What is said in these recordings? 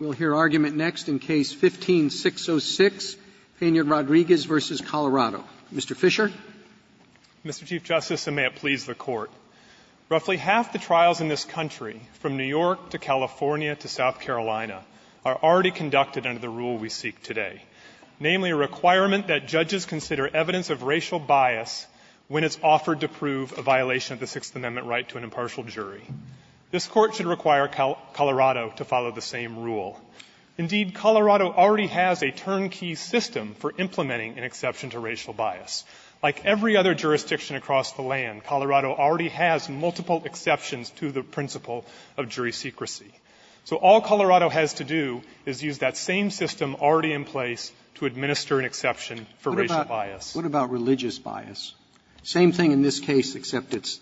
We'll hear argument next in Case No. 15-606, Pena-Rodriguez v. Colorado. Mr. Fisher. Mr. Chief Justice, and may it please the Court, roughly half the trials in this country, from New York to California to South Carolina, are already conducted under the rule we seek today, namely a requirement that judges consider evidence of racial bias when it's offered to prove a violation of the Sixth Amendment right to an impartial jury. This Court should require Colorado to follow the same rule. Indeed, Colorado already has a turnkey system for implementing an exception to racial bias. Like every other jurisdiction across the land, Colorado already has multiple exceptions to the principle of jury secrecy. So all Colorado has to do is use that same system already in place to administer an exception for racial bias. What about religious bias? Same thing in this case, except it's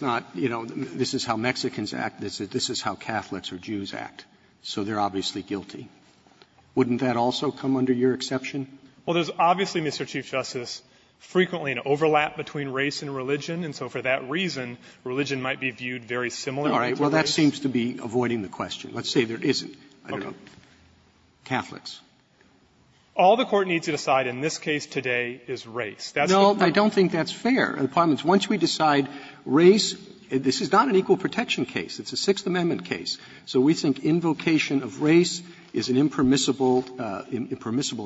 not, you know, this is how Mexicans act, this is how Catholics or Jews act. So they're obviously guilty. Wouldn't that also come under your exception? Well, there's obviously, Mr. Chief Justice, frequently an overlap between race and religion, and so for that reason, religion might be viewed very similarly to race. All right. Well, that seems to be avoiding the question. Let's say there isn't. I don't know. Catholics. All the Court needs to decide in this case today is race. No, I don't think that's fair. Once we decide race, this is not an equal protection case. It's a Sixth Amendment case. So we think invocation of race is impermissible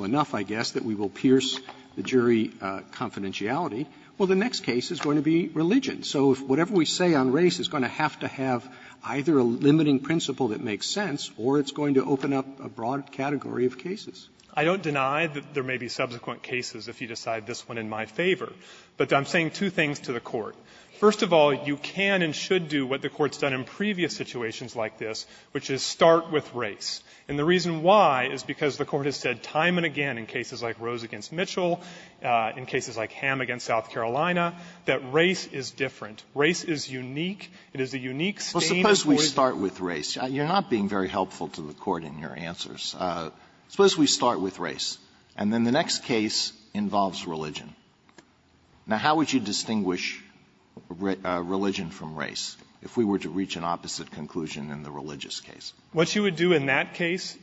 enough, I guess, that we will pierce the jury confidentiality. Well, the next case is going to be religion. So whatever we say on race is going to have to have either a limiting principle that makes sense, or it's going to open up a broad category of cases. I don't deny that there may be subsequent cases if you decide this one in my favor, but I'm saying two things to the Court. First of all, you can and should do what the Court's done in previous situations like this, which is start with race. And the reason why is because the Court has said time and again in cases like Rose v. Mitchell, in cases like Ham v. South Carolina, that race is different. It is a unique state in which the Court has said that race is unique. Alito, you're not being very helpful to the Court in your answers. Suppose we start with race, and then the next case involves religion. Now, how would you distinguish religion from race if we were to reach an opposite conclusion in the religious case? What you would do in that case,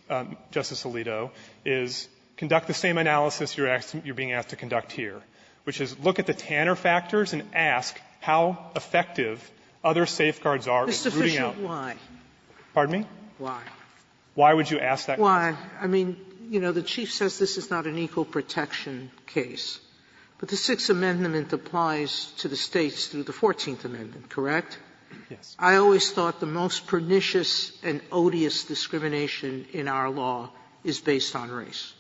Justice Alito, is conduct the same analysis you're being asked to conduct here, which is look at the Tanner factors and ask how effective other safeguards are in rooting out. Sotomayor, why? Why? Why would you ask that question? Why? I mean, you know, the Chief says this is not an equal protection case. But the Sixth Amendment applies to the States through the Fourteenth Amendment, correct? Yes. I always thought the most pernicious and odious discrimination in our law is based on race.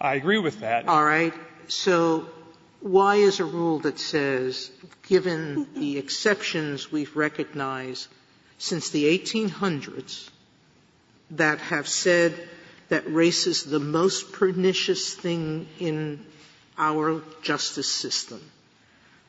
I agree with that. All right. Sotomayor, so why is a rule that says, given the exceptions we've recognized since the 1800s that have said that race is the most pernicious thing in our justice system,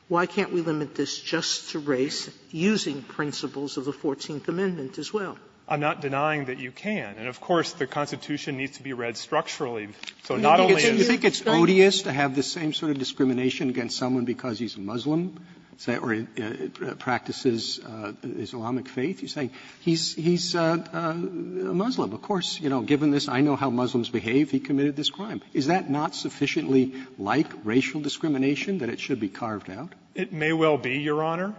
why can't we limit this just to race, using principles of the Fourteenth Amendment as well? I'm not denying that you can. And, of course, the Constitution needs to be read structurally. So not only is it the States' fault. Roberts, do you think it's odious to have the same sort of discrimination against someone because he's Muslim or practices Islamic faith? You're saying he's a Muslim. Of course, you know, given this, I know how Muslims behave, he committed this crime. Is that not sufficiently like racial discrimination that it should be carved out? It may well be, Your Honor.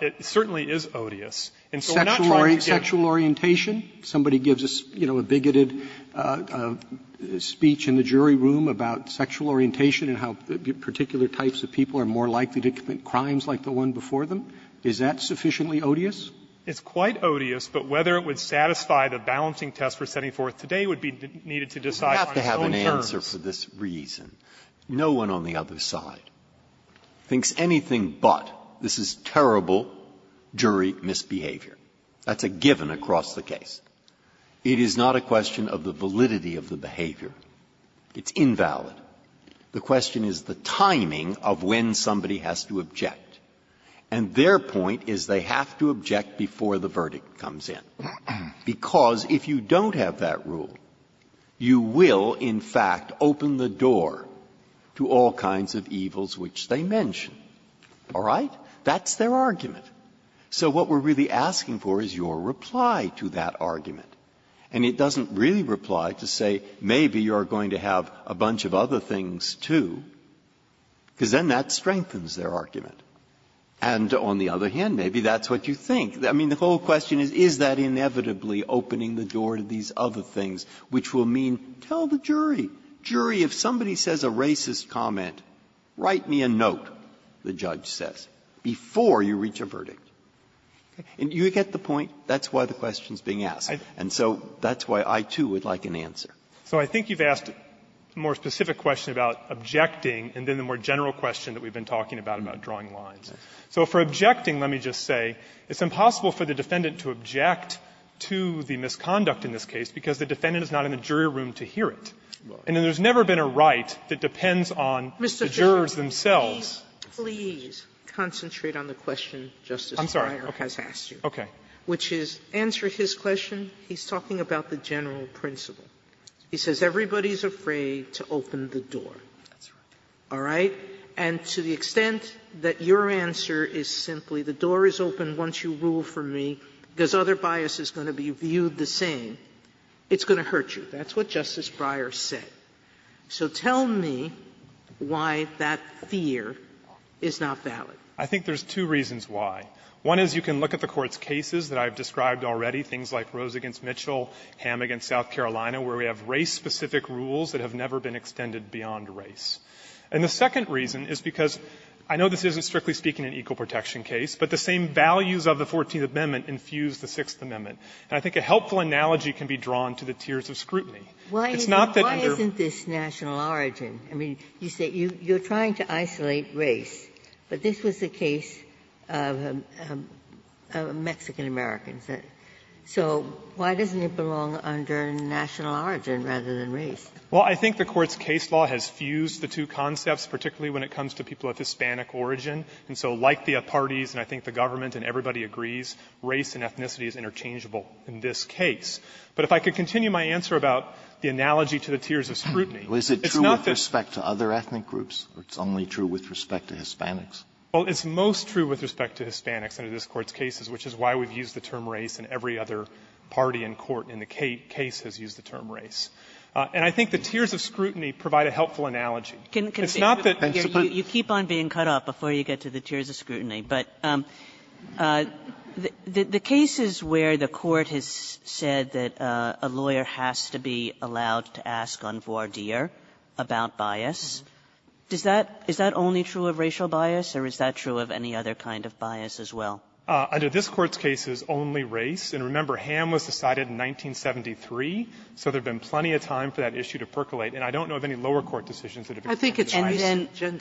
It certainly is odious. And so I'm not trying to give you an answer. Roberts, do you think it's odious to have a speech in the jury room about sexual orientation and how particular types of people are more likely to commit crimes like the one before them? Is that sufficiently odious? It's quite odious, but whether it would satisfy the balancing test we're setting forth today would be needed to decide on its own terms. You have to have an answer for this reason. No one on the other side thinks anything but this is terrible jury misbehavior. That's a given across the case. It is not a question of the validity of the behavior. It's invalid. The question is the timing of when somebody has to object. And their point is they have to object before the verdict comes in, because if you don't have that rule, you will, in fact, open the door to all kinds of evils which they mention. All right? That's their argument. So what we're really asking for is your reply to that argument. And it doesn't really reply to say maybe you're going to have a bunch of other things too, because then that strengthens their argument. And on the other hand, maybe that's what you think. I mean, the whole question is, is that inevitably opening the door to these other things, which will mean tell the jury, jury, if somebody says a racist comment, write me a note, the judge says, before you reach a verdict. And you get the point? That's why the question is being asked. And so that's why I, too, would like an answer. Fisherman So I think you've asked a more specific question about objecting and then the more general question that we've been talking about, about drawing lines. So for objecting, let me just say, it's impossible for the defendant to object to the misconduct in this case because the defendant is not in the jury room to hear it. And there's never been a right that depends on the jury. The jurors themselves. Sotomayor Please concentrate on the question Justice Breyer has asked you. Fisherman I'm sorry. Okay. Sotomayor Which is, answer his question. He's talking about the general principle. He says everybody's afraid to open the door. All right? And to the extent that your answer is simply the door is open once you rule for me, because other bias is going to be viewed the same, it's going to hurt you. That's what Justice Breyer said. So tell me why that fear is not valid. Fisherman I think there's two reasons why. One is you can look at the Court's cases that I've described already, things like Rose v. Mitchell, Hamm v. South Carolina, where we have race-specific rules that have never been extended beyond race. And the second reason is because I know this isn't, strictly speaking, an equal protection case, but the same values of the Fourteenth Amendment infuse the Sixth Amendment. And I think a helpful analogy can be drawn to the tiers of scrutiny. Ginsburg Why isn't this national origin? I mean, you say you're trying to isolate race, but this was the case of Mexican-Americans. So why doesn't it belong under national origin rather than race? Fisherman Well, I think the Court's case law has fused the two concepts, particularly when it comes to people of Hispanic origin. And so like the parties, and I think the government and everybody agrees, race and ethnicity is interchangeable in this case. But if I could continue my answer about the analogy to the tiers of scrutiny, it's not that the other ethnic groups, it's only true with respect to Hispanics. Fisherman Well, it's most true with respect to Hispanics under this Court's cases, which is why we've used the term race in every other party in court in the case has used the term race. And I think the tiers of scrutiny provide a helpful analogy. It's not that the other ethnic groups are not equal. Kagan You keep on being cut off before you get to the tiers of scrutiny. But the cases where the Court has said that a lawyer has to be allowed to ask on voir dire about bias, does that – is that only true of racial bias, or is that true of any other kind of bias as well? Fisherman Under this Court's case, it's only race. And remember, Ham was decided in 1973, so there's been plenty of time for that issue to percolate. And I don't know of any lower court decisions that have included race. Kagan And then – Kagan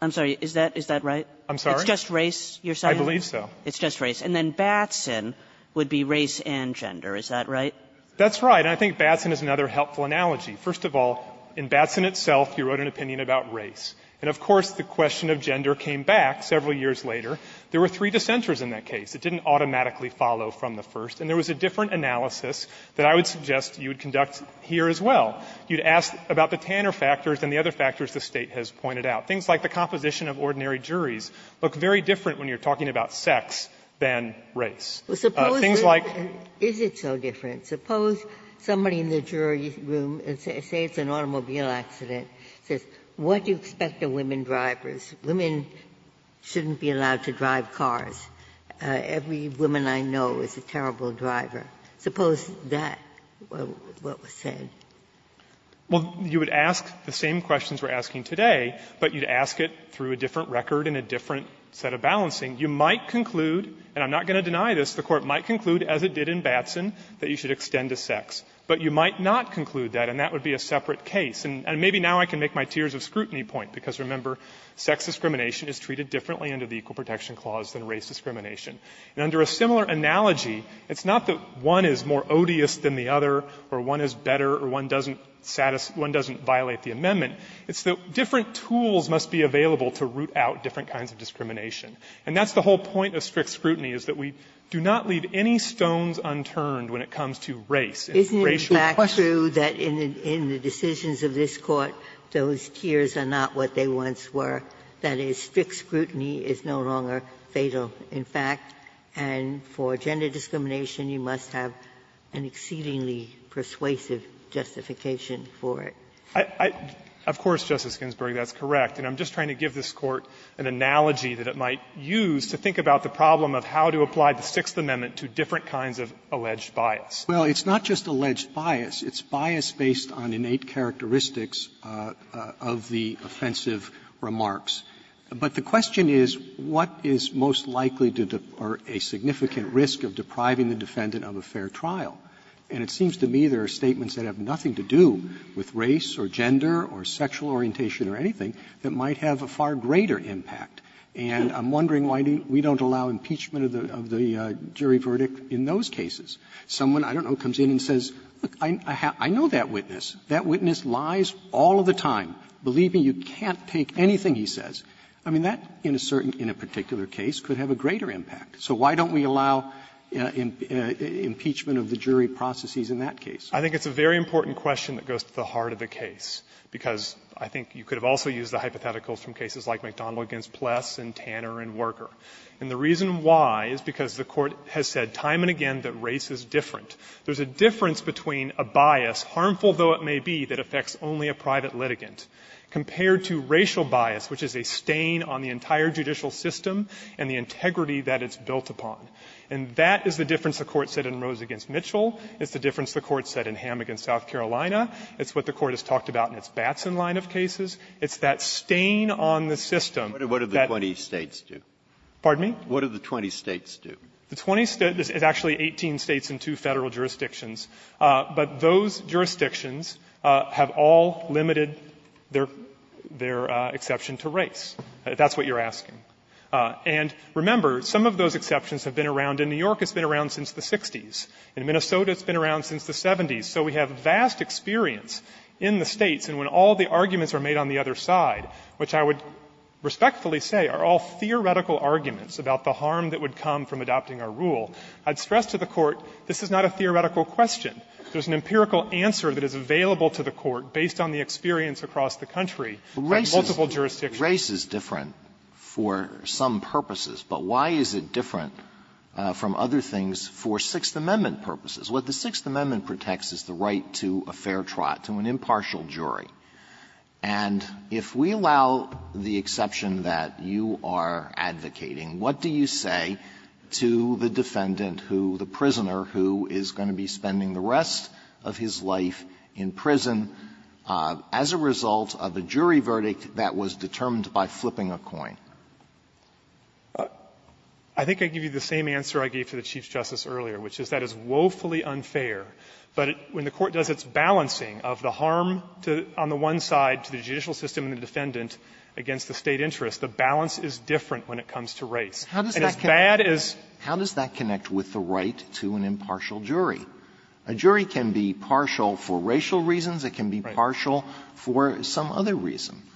I'm sorry. Is that – is that right? Fisherman I'm sorry? Kagan It's just race, you're saying? Fisherman I believe so. Kagan It's just race. And then Batson would be race and gender. Is that right? Fisherman That's right. And I think Batson is another helpful analogy. First of all, in Batson itself, he wrote an opinion about race. And of course, the question of gender came back several years later. There were three dissenters in that case. It didn't automatically follow from the first. And there was a different analysis that I would suggest you would conduct here as well. You'd ask about the Tanner factors and the other factors the State has pointed out. Things like the composition of ordinary juries look very different when you're talking about sex than race. Things like – Ginsburg Is it so different? Suppose somebody in the jury room, say it's an automobile accident, says, what do you expect of women drivers? Women shouldn't be allowed to drive cars. Every woman I know is a terrible driver. Suppose that was what was said. Fisherman Well, you would ask the same questions we're asking today, but you'd ask it through a different record and a different set of balancing. You might conclude, and I'm not going to deny this, the Court might conclude, as it did in Batson, that you should extend to sex. But you might not conclude that, and that would be a separate case. And maybe now I can make my tiers of scrutiny point, because, remember, sex discrimination is treated differently under the Equal Protection Clause than race discrimination. And under a similar analogy, it's not that one is more odious than the other or one is better or one doesn't violate the amendment. It's that different tools must be available to root out different kinds of discrimination. And that's the whole point of strict scrutiny, is that we do not leave any stones unturned when it comes to race. Ginsburg Isn't it back true that in the decisions of this Court, those tiers are not what they once were? That is, strict scrutiny is no longer fatal. In fact, and for gender discrimination, you must have an exceedingly persuasive justification for it. Fisher Of course, Justice Ginsburg, that's correct. And I'm just trying to give this Court an analogy that it might use to think about the problem of how to apply the Sixth Amendment to different kinds of alleged bias. Roberts Well, it's not just alleged bias. It's bias based on innate characteristics of the offensive remarks. But the question is, what is most likely to or a significant risk of depriving the defendant of a fair trial? And it seems to me there are statements that have nothing to do with race or gender or sexual orientation or anything that might have a far greater impact. And I'm wondering why we don't allow impeachment of the jury verdict in those cases. Someone, I don't know, comes in and says, look, I know that witness. That witness lies all of the time. Believe me, you can't take anything he says. I mean, that in a certain or particular case could have a greater impact. So why don't we allow impeachment of the jury processes in that case? Fisher I think it's a very important question that goes to the heart of the case, because I think you could have also used the hypotheticals from cases like McDonald v. Pless and Tanner v. Worker. And the reason why is because the Court has said time and again that race is different. There's a difference between a bias, harmful though it may be, that affects only a private litigant. Compared to racial bias, which is a stain on the entire judicial system and the integrity that it's built upon. And that is the difference the Court said in Rose v. Mitchell. It's the difference the Court said in Hammock v. South Carolina. It's what the Court has talked about in its Batson line of cases. It's that stain on the system that the Court said in Hammock v. South Carolina. Breyer What do the 20 States do? Fisher Pardon me? Breyer What do the 20 States do? Fisher The 20 States are actually 18 States and two Federal jurisdictions. But those jurisdictions have all limited their exception to race. That's what you're asking. And remember, some of those exceptions have been around in New York. It's been around since the 60s. In Minnesota, it's been around since the 70s. So we have vast experience in the States. And when all the arguments are made on the other side, which I would respectfully say are all theoretical arguments about the harm that would come from adopting a rule, I'd stress to the Court, this is not a theoretical question. There's an empirical answer that is available to the Court based on the experience across the country from multiple jurisdictions. Alito Race is different for some purposes. But why is it different from other things for Sixth Amendment purposes? What the Sixth Amendment protects is the right to a fair trial, to an impartial jury. And if we allow the exception that you are advocating, what do you say to the other defendant who, the prisoner who is going to be spending the rest of his life in prison as a result of a jury verdict that was determined by flipping a coin? Fisherman, I think I'd give you the same answer I gave to the Chief Justice earlier, which is that is woefully unfair. But when the Court does its balancing of the harm on the one side to the judicial system and the defendant against the State interest, the balance is different when it comes to race. And as bad as ---- Alito Race, how does that connect with the right to an impartial jury? A jury can be partial for racial reasons. It can be partial for some other reason. Fisherman,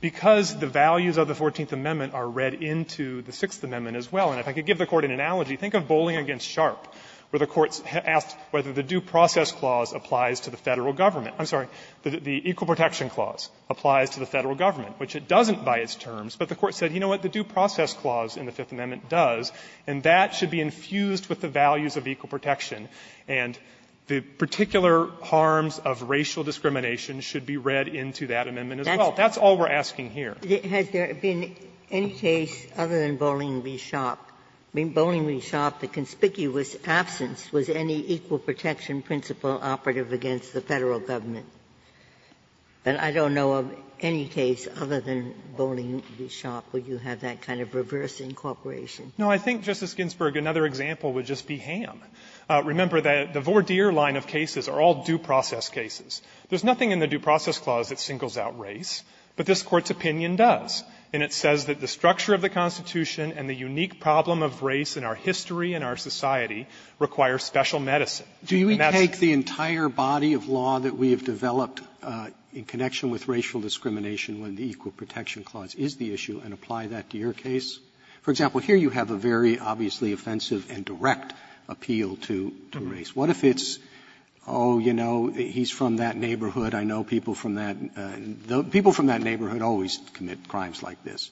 because the values of the Fourteenth Amendment are read into the Sixth Amendment as well. And if I could give the Court an analogy, think of bowling against sharp, where the Court asked whether the due process clause applies to the Federal government — I'm sorry, the equal protection clause applies to the Federal government, which it doesn't by its terms. But the Court said, you know what, the due process clause in the Fifth Amendment does, and that should be infused with the values of equal protection. And the particular harms of racial discrimination should be read into that amendment as well. That's all we're asking here. Ginsburg. Has there been any case other than bowling v. sharp, I mean, bowling v. sharp, the conspicuous absence, was any equal protection principle operative against the Federal government? And I don't know of any case other than bowling v. sharp where you have that kind of reverse incorporation. Fisherman, no, I think, Justice Ginsburg, another example would just be Ham. Remember that the voir dire line of cases are all due process cases. There's nothing in the due process clause that singles out race, but this Court's opinion does. And it says that the structure of the Constitution and the unique problem of race in our history and our society require special medicine. Roberts, do we take the entire body of law that we have developed in connection with racial discrimination when the Equal Protection Clause is the issue and apply that to your case? For example, here you have a very, obviously, offensive and direct appeal to race. What if it's, oh, you know, he's from that neighborhood, I know people from that the people from that neighborhood always commit crimes like this.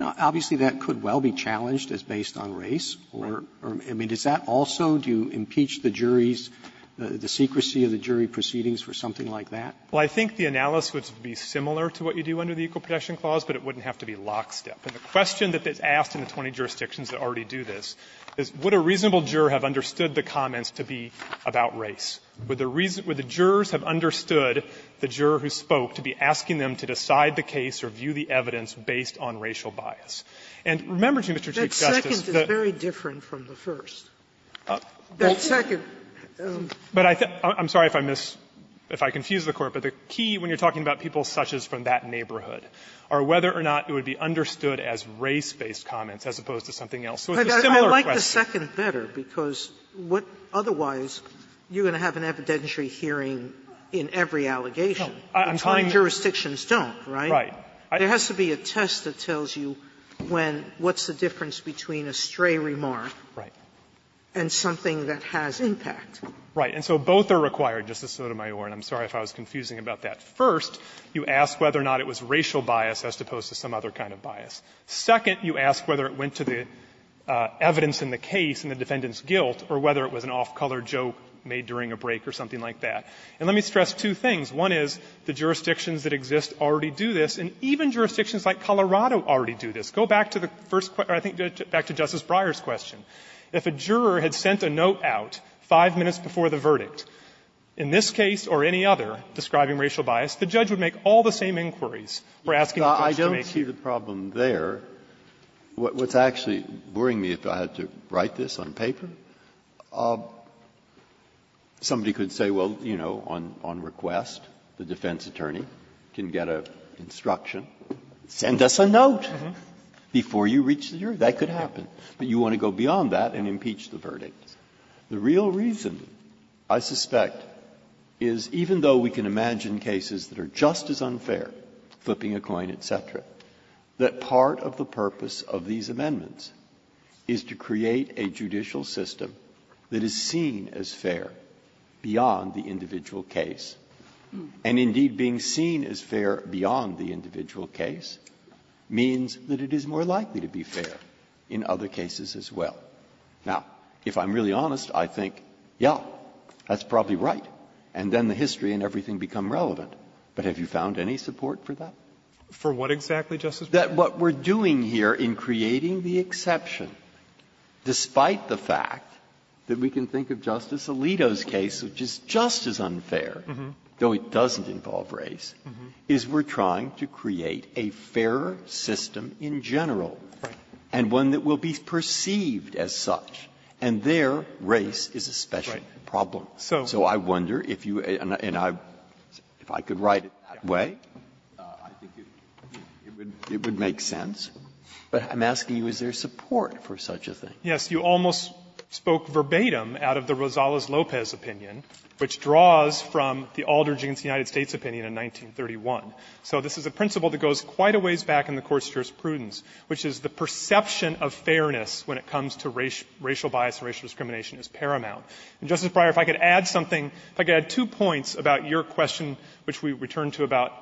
Now, obviously, that could well be challenged as based on race or, I mean, does that also, do you impeach the jury's, the secrecy of the jury proceedings for something like that? Fisherman, I think the analysis would be similar to what you do under the Equal Protection Clause, but it wouldn't have to be lockstep. And the question that's asked in the 20 jurisdictions that already do this is would a reasonable juror have understood the comments to be about race? Would the jurors have understood the juror who spoke to be asking them to decide the case or view the evidence based on racial bias? And remember, Mr. Chief Justice, that the first is very different from the second. That second — Fisherman, I'm sorry if I miss, if I confuse the Court, but the key when you're talking about people such as from that neighborhood are whether or not it would be understood as race-based comments as opposed to something else. So it's a similar question. Sotomayor, I like the second better, because what otherwise, you're going to have an evidentiary hearing in every allegation. Fisherman, I'm trying to — Sotomayor, but 20 jurisdictions don't, right? Fisherman, right. Sotomayor, there has to be a test that tells you when, what's the difference between a stray remark — Fisherman, right. — and something that has impact. Fisherman, right. And so both are required, Justice Sotomayor, and I'm sorry if I was confusing about that. First, you ask whether or not it was racial bias as opposed to some other kind of bias. Second, you ask whether it went to the evidence in the case and the defendant's guilt or whether it was an off-color joke made during a break or something like that. And let me stress two things. One is the jurisdictions that exist already do this, and even jurisdictions like Colorado already do this. Go back to the first — I think back to Justice Breyer's question. If a juror had sent a note out five minutes before the verdict, in this case or any other describing racial bias, the judge would make all the same inquiries for asking the judge to make. Breyer, I don't see the problem there. What's actually boring me, if I had to write this on paper, somebody could say, well, you know, on request, the defense attorney can get an instruction, send us a note before you reach the jury. That could happen. But you want to go beyond that and impeach the verdict. The real reason, I suspect, is even though we can imagine cases that are just as unfair, flipping a coin, et cetera, that part of the purpose of these amendments is to create a judicial system that is seen as fair beyond the individual case. And indeed, being seen as fair beyond the individual case means that it is more likely to be fair in other cases as well. Now, if I'm really honest, I think, yes, that's probably right. And then the history and everything become relevant. But have you found any support for that? For what exactly, Justice Breyer? That what we're doing here in creating the exception, despite the fact that we can think of Justice Alito's case, which is just as unfair, though it doesn't involve race, is we're trying to create a fairer system in general, and one that will be perceived as such. And there, race is a special problem. So I wonder if you and I, if I could write it that way, I think it would make sense. But I'm asking you, is there support for such a thing? Fisherman, Yes, you almost spoke verbatim out of the Rosales-Lopez opinion, which draws from the Aldridge v. United States opinion in 1931. So this is a principle that goes quite a ways back in the courts' jurisprudence, which is the perception of fairness when it comes to racial bias and racial discrimination is paramount. And, Justice Breyer, if I could add something, if I could add two points about your question, which we return to about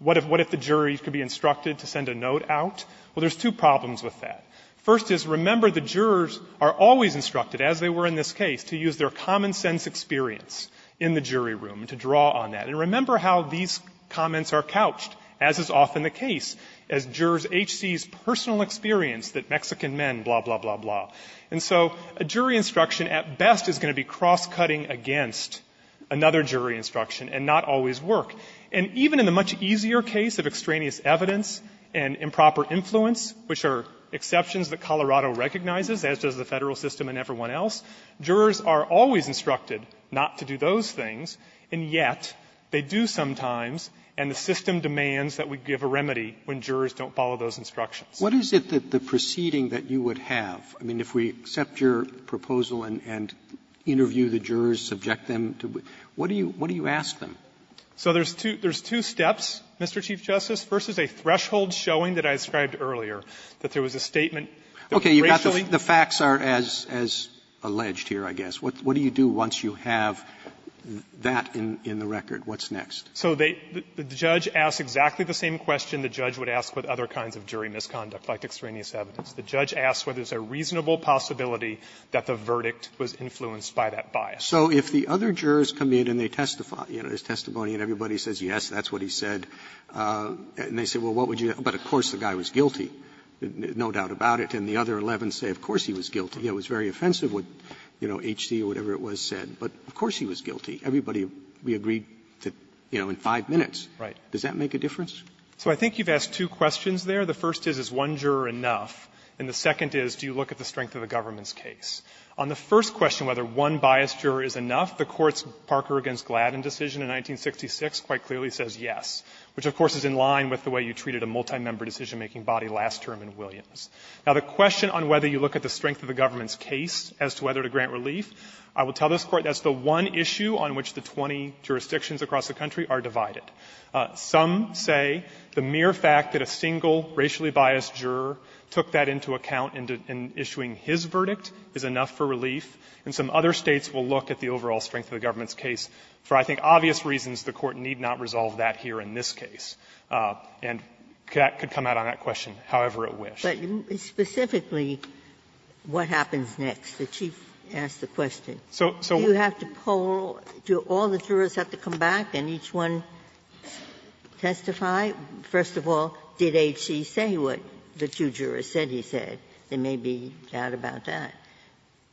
what if the jury could be instructed to send a note out? Well, there's two problems with that. First is, remember, the jurors are always instructed, as they were in this case, to use their common-sense experience in the jury room to draw on that. And remember how these comments are couched, as is often the case, as jurors H.C.'s personal experience that Mexican men, blah, blah, blah, blah. And so a jury instruction, at best, is going to be cross-cutting against another jury instruction and not always work. And even in the much easier case of extraneous evidence and improper influence, which are exceptions that Colorado recognizes, as does the Federal system and everyone else, jurors are always instructed not to do those things. And yet, they do sometimes, and the system demands that we give a remedy when jurors don't follow those instructions. Robertson, what is it that the proceeding that you would have, I mean, if we accept your proposal and interview the jurors, subject them to, what do you ask them? So there's two steps, Mr. Chief Justice. First is a threshold showing that I described earlier, that there was a statement that racially was not. And then there's a second step, which is to say, well, what do you do once you have that in the record? What's next? Fisherman So they the judge asked exactly the same question the judge would ask with other kinds of jury misconduct, like extraneous evidence. The judge asked whether there's a reasonable possibility that the verdict was influenced by that bias. Roberts So if the other jurors come in and they testify, you know, there's testimony and everybody says yes, that's what he said, and they say, well, what would you do? But of course the guy was guilty, no doubt about it. And the other 11 say, of course he was guilty. It was very offensive what, you know, H.C. or whatever it was said, but of course he was guilty. Everybody, we agreed to, you know, in five minutes. Fisherman Right. Roberts Does that make a difference? Fisherman So I think you've asked two questions there. The first is, is one juror enough? And the second is, do you look at the strength of the government's case? On the first question, whether one biased juror is enough, the Court's Parker v. Gladden decision in 1966 quite clearly says yes, which of course is in line with the way you treated a multi-member decisionmaking body last term in Williams. Now, the question on whether you look at the strength of the government's case as to whether to grant relief, I will tell this Court that's the one issue on which the 20 jurisdictions across the country are divided. Some say the mere fact that a single racially biased juror took that into account in issuing his verdict is enough for relief, and some other States will look at the overall strength of the government's case. For, I think, obvious reasons, the Court need not resolve that here in this case. And that could come out on that question however it wished. Ginsburg-McCain, Jr.: But specifically, what happens next? The Chief asked the question. Do you have to poll? Do all the jurors have to come back and each one testify? First of all, did H.C. say what the two jurors said he said? There may be doubt about that.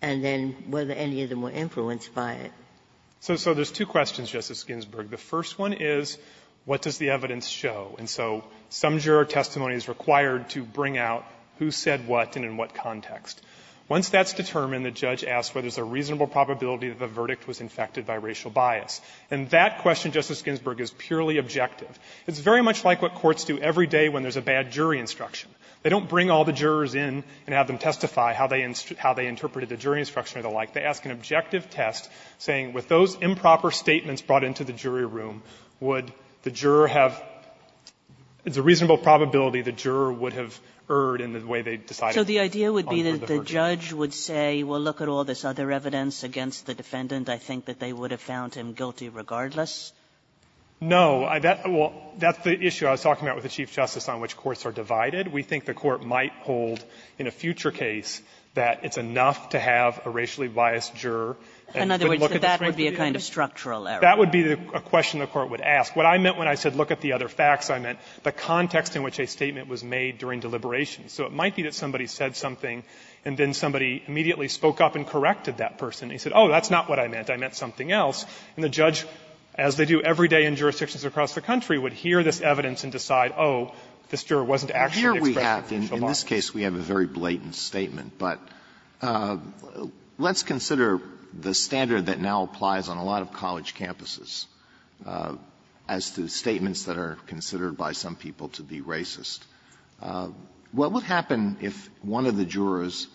And then whether any of them were influenced by it. Fisherman, Jr.: So there's two questions, Justice Ginsburg. The first one is, what does the evidence show? And so some juror testimony is required to bring out who said what and in what context. Once that's determined, the judge asks whether there's a reasonable probability that the verdict was infected by racial bias. And that question, Justice Ginsburg, is purely objective. It's very much like what courts do every day when there's a bad jury instruction. They don't bring all the jurors in and have them testify how they interpreted the jury instruction or the like. They ask an objective test, saying with those improper statements brought into the It's a reasonable probability the juror would have erred in the way they decided Kagan, Jr. So the idea would be the judge would say, well, look at all this other evidence against the defendant. I think that they would have found him guilty regardless? Fisherman, Jr. No. Well, that's the issue I was talking about with the Chief Justice on which courts are divided. We think the Court might hold in a future case that it's enough to have a racially biased juror and look at the transcript. Kagan, Jr. So that would be a kind of structural error. Fisherman, Jr. That would be a question the Court would ask. What I meant when I said look at the other facts, I meant the context in which a statement was made during deliberation. So it might be that somebody said something and then somebody immediately spoke up and corrected that person. He said, oh, that's not what I meant. I meant something else. And the judge, as they do every day in jurisdictions across the country, would hear this evidence and decide, oh, this juror wasn't actually expressing facial bias. Alito, Jr. Here we have, in this case, we have a very blatant statement. But let's consider the standard that now applies on a lot of college campuses. As to statements that are considered by some people to be racist, what would happen if one of the jurors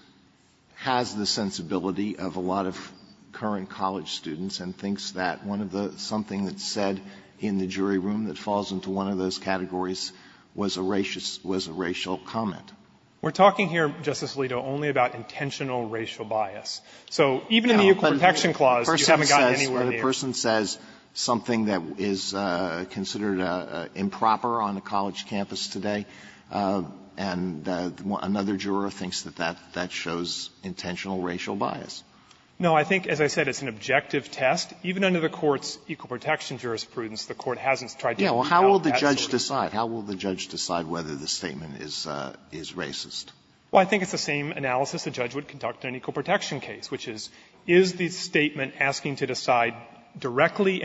has the sensibility of a lot of current college students and thinks that one of the – something that's said in the jury room that falls into one of those categories was a racial comment? Fisherman, Jr. We're talking here, Justice Alito, only about intentional racial bias. So even in the Equal Protection Clause, you haven't gotten anywhere near the racial bias. Alito, Jr. Something that is considered improper on a college campus today, and another juror thinks that that shows intentional racial bias. Fisherman, Jr. No. I think, as I said, it's an objective test. Even under the Court's Equal Protection jurisprudence, the Court hasn't tried to do that. Alito, Jr. Well, how will the judge decide? How will the judge decide whether the statement is racist? Fisherman, Jr. Well, I think it's the same analysis the judge would conduct in an Equal Protection case, where the judge would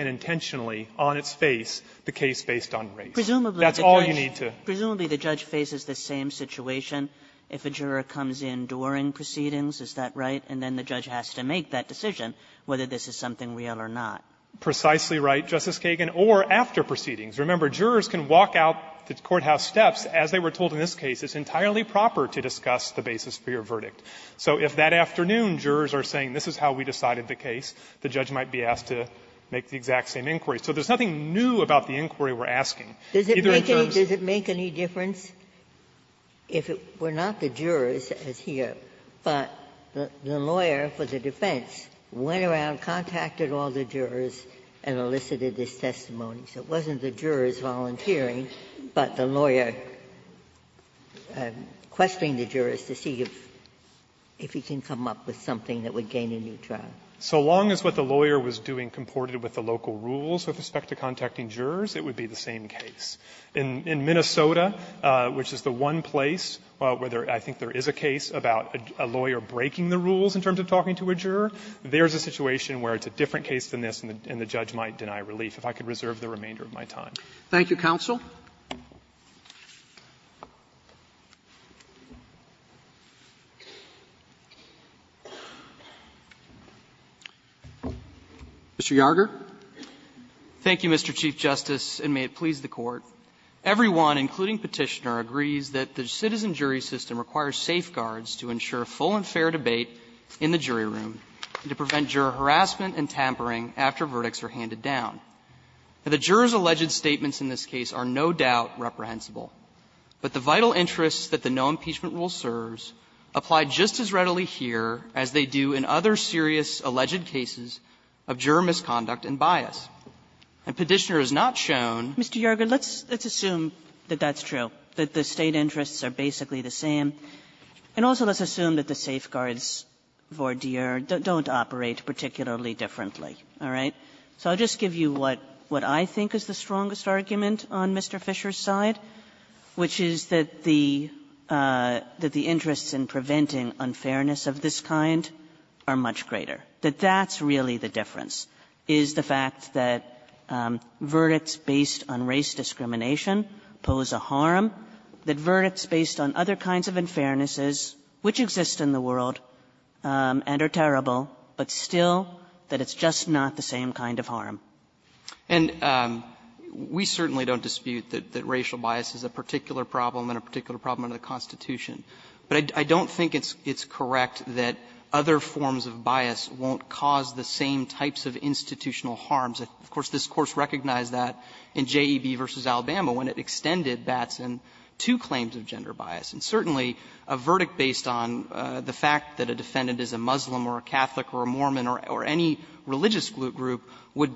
intentionally, on its face, the case based on race. That's all you need to do. Kagan, Jr. Presumably, the judge faces the same situation if a juror comes in during proceedings, is that right? And then the judge has to make that decision whether this is something real or not. Fisherman, Jr. Precisely right, Justice Kagan, or after proceedings. Remember, jurors can walk out the courthouse steps, as they were told in this case. It's entirely proper to discuss the basis for your verdict. So if that afternoon jurors are saying this is how we decided the case, the judge might be asked to make the exact same inquiry. So there's nothing new about the inquiry we're asking. Either in terms of the case itself or the case itself. Ginsburg. Does it make any difference if it were not the jurors as here, but the lawyer for the defense went around, contacted all the jurors, and elicited this testimony? So it wasn't the jurors volunteering, but the lawyer questioning the jurors to see if he can come up with something that would gain a new trial. Fisherman, Jr. So long as what the lawyer was doing comported with the local rules with respect to contacting jurors, it would be the same case. In Minnesota, which is the one place where I think there is a case about a lawyer breaking the rules in terms of talking to a juror, there's a situation where it's a different case than this, and the judge might deny relief, if I could reserve the remainder of my time. Roberts. Thank you, counsel. Mr. Yarger. Yarger. Thank you, Mr. Chief Justice, and may it please the Court. Everyone, including Petitioner, agrees that the citizen jury system requires safeguards to ensure full and fair debate in the jury room and to prevent juror harassment and tampering after verdicts are handed down. The jurors' alleged statements in this case are no doubt reprehensible, but the vital interests that the no-impeachment rule serves apply just as readily here as they do in other serious alleged cases of juror misconduct and bias. And Petitioner has not shown Mr. Yarger, let's assume that that's true, that the State interests are basically the same, and also let's assume that the safeguards in this vordeer don't operate particularly differently. All right? So I'll just give you what I think is the strongest argument on Mr. Fisher's side, which is that the interests in preventing unfairness of this kind are much greater. That that's really the difference, is the fact that verdicts based on race discrimination pose a harm, that verdicts based on other kinds of unfairnesses, which exist in the world, and are terrible, but still that it's just not the same kind of harm. And we certainly don't dispute that racial bias is a particular problem and a particular problem under the Constitution, but I don't think it's correct that other forms of bias won't cause the same types of institutional harms. Of course, this Course recognized that in J.E.B. v. Alabama, when it extended Batson two claims of gender bias. And certainly, a verdict based on the fact that a defendant is a Muslim or a Catholic or a Mormon or any religious group would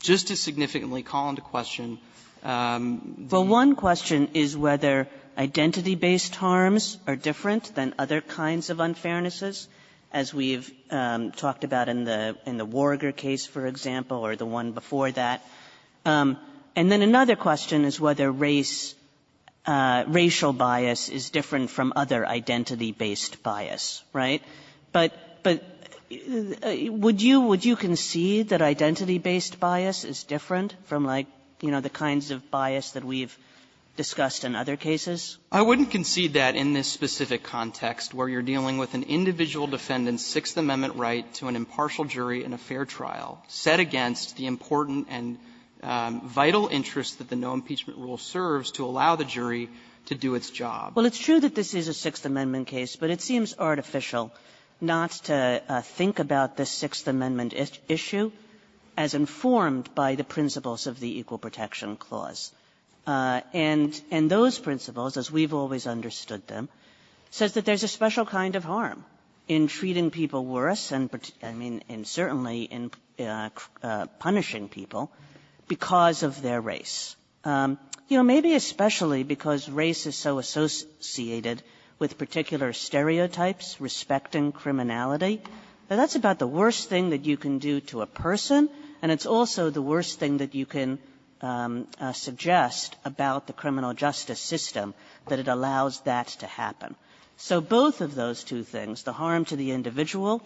just as significantly call into question the one question is whether identity-based harms are different than other kinds of unfairnesses, as we've talked about in the Warger case, for example, or the one before that. And then another question is whether race, racial bias is different from other identity-based bias, right? But would you concede that identity-based bias is different from, like, you know, the kinds of bias that we've discussed in other cases? I wouldn't concede that in this specific context, where you're dealing with an individual defendant's Sixth Amendment right to an impartial jury in a fair trial set against the important and vital interest that the no-impeachment rule serves to allow the jury to do its job. Kagan. Well, it's true that this is a Sixth Amendment case, but it seems artificial not to think about the Sixth Amendment issue as informed by the principles of the Equal Protection Clause. And those principles, as we've always understood them, says that there's a special kind of harm in treating people worse and, I mean, certainly in punishing people because of their race. You know, maybe especially because race is so associated with particular stereotypes, respecting criminality. That's about the worst thing that you can do to a person, and it's also the worst thing that you can suggest about the criminal justice system, that it allows that to happen. So both of those two things, the harm to the individual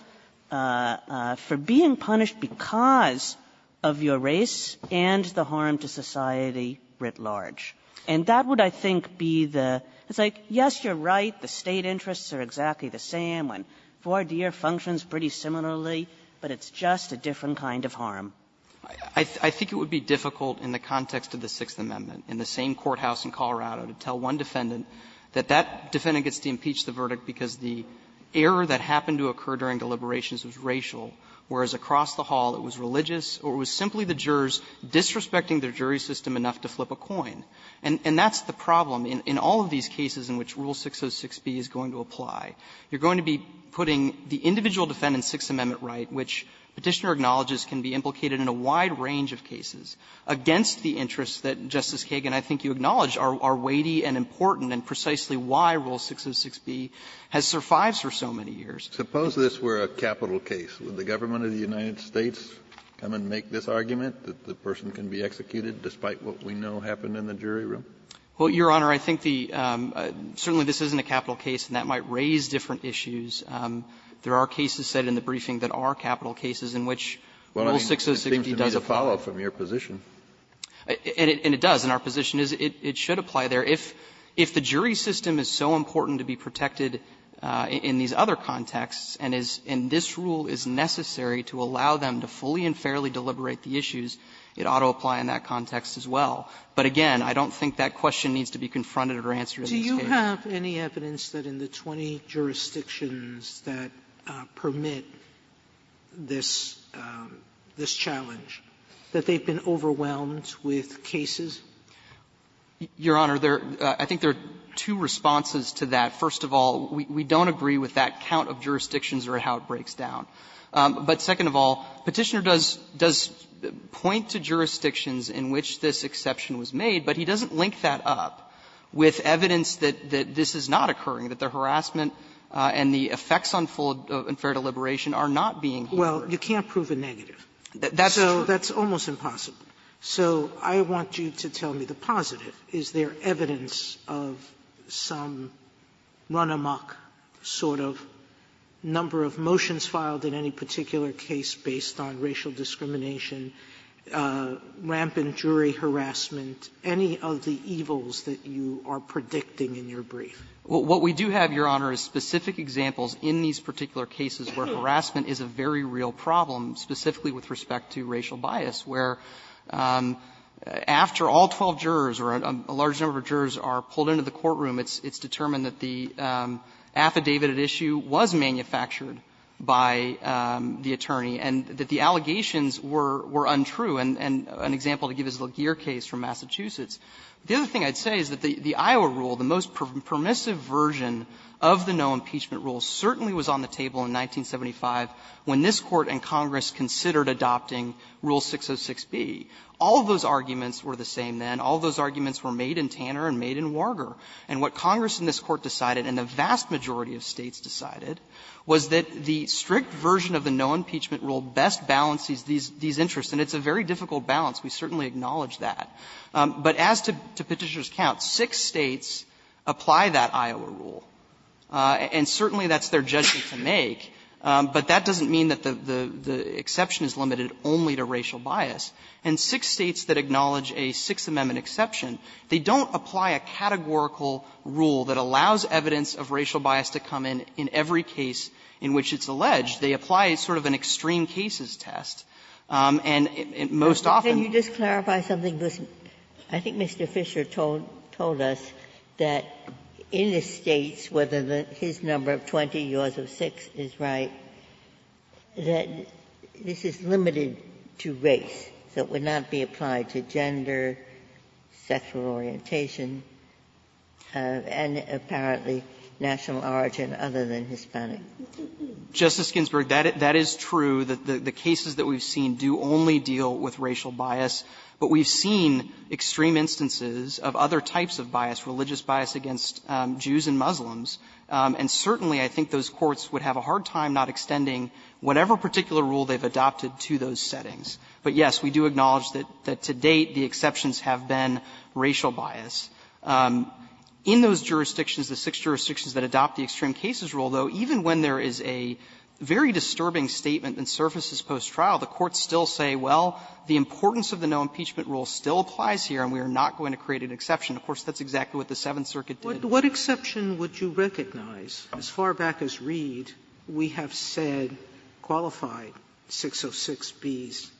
for being punished because of your race and the harm to society writ large. And that would, I think, be the – it's like, yes, you're right, the State interests are exactly the same when voir dire functions pretty similarly, but it's just a different kind of harm. I think it would be difficult in the context of the Sixth Amendment, in the same courthouse in Colorado, to tell one defendant that that defendant gets to impeach the verdict because the error that happened to occur during deliberations was racial, whereas across the hall it was religious or it was simply the jurors disrespecting their jury system enough to flip a coin. And that's the problem in all of these cases in which Rule 606b is going to apply. You're going to be putting the individual defendant's Sixth Amendment right, which Petitioner acknowledges can be implicated in a wide range of cases, against the interests that, Justice Kagan, I think you acknowledge are weighty and important and precisely why Rule 606b has survived for so many years. Kennedy, suppose this were a capital case. Would the government of the United States come and make this argument, that the person can be executed despite what we know happened in the jury room? Well, Your Honor, I think the – certainly this isn't a capital case, and that might raise different issues. There are cases set in the briefing that are capital cases in which Rule 606b does apply. Well, I mean, it seems to me to follow from your position. And it does. And our position is it should apply there. If the jury system is so important to be protected in these other contexts and is – and this rule is necessary to allow them to fully and fairly deliberate the issues, it ought to apply in that context as well. But again, I don't think that question needs to be confronted or answered in these cases. Sotomayor, do you have any evidence that in the 20 jurisdictions that permit this challenge, that they've been overwhelmed with cases? Your Honor, there – I think there are two responses to that. First of all, we don't agree with that count of jurisdictions or how it breaks down. But second of all, Petitioner does – does point to jurisdictions in which this exception was made, but he doesn't link that up with evidence that this is not occurring, that the harassment and the effects on full and fair deliberation are not being heard. Well, you can't prove a negative. That's true. So that's almost impossible. Sotomayor, so I want you to tell me the positive. Is there evidence of some run-amok sort of number of motions filed in any particular case based on racial discrimination, rampant jury harassment, any of the evils that you are predicting in your brief? What we do have, Your Honor, is specific examples in these particular cases where harassment is a very real problem, specifically with respect to racial bias, where after all 12 jurors or a large number of jurors are pulled into the courtroom, it's determined that the affidavit at issue was manufactured by the attorney and that the allegations were untrue. And an example to give is the LaGear case from Massachusetts. The other thing I'd say is that the Iowa rule, the most permissive version of the no impeachment rule, certainly was on the table in 1975 when this Court and Congress considered adopting Rule 606B. All of those arguments were the same then. All of those arguments were made in Tanner and made in Warger. And what Congress in this Court decided, and the vast majority of States decided, was that the strict version of the no impeachment rule best balances these interests. And it's a very difficult balance. We certainly acknowledge that. But as to Petitioner's count, six States apply that Iowa rule. And certainly that's their judgment to make. But that doesn't mean that the exception is limited only to racial bias. And six States that acknowledge a Sixth Amendment exception, they don't apply a categorical rule that allows evidence of racial bias to come in in every case in which it's alleged. They apply sort of an extreme cases test. And most often they don't. Ginsburg. Ginsburg. Can you just clarify something? I think Mr. Fisher told us that in the States, whether his number of 20, yours of 6, is right, that this is limited to race. So it would not be applied to gender, sexual orientation, and apparently national origin other than Hispanic. Justice Ginsburg, that is true, that the cases that we've seen do only deal with racial bias. But we've seen extreme instances of other types of bias, religious bias against Jews and Muslims. And certainly I think those courts would have a hard time not extending whatever particular rule they've adopted to those settings. But, yes, we do acknowledge that to date the exceptions have been racial bias. In those jurisdictions, the six jurisdictions that adopt the extreme cases rule, though, even when there is a very disturbing statement that surfaces post-trial, the courts still say, well, the importance of the no impeachment rule still applies here and we are not going to create an exception. Of course, that's exactly what the Seventh Circuit did. Sotomayor, what exception would you recognize? As far back as Reed, we have said qualified 606B's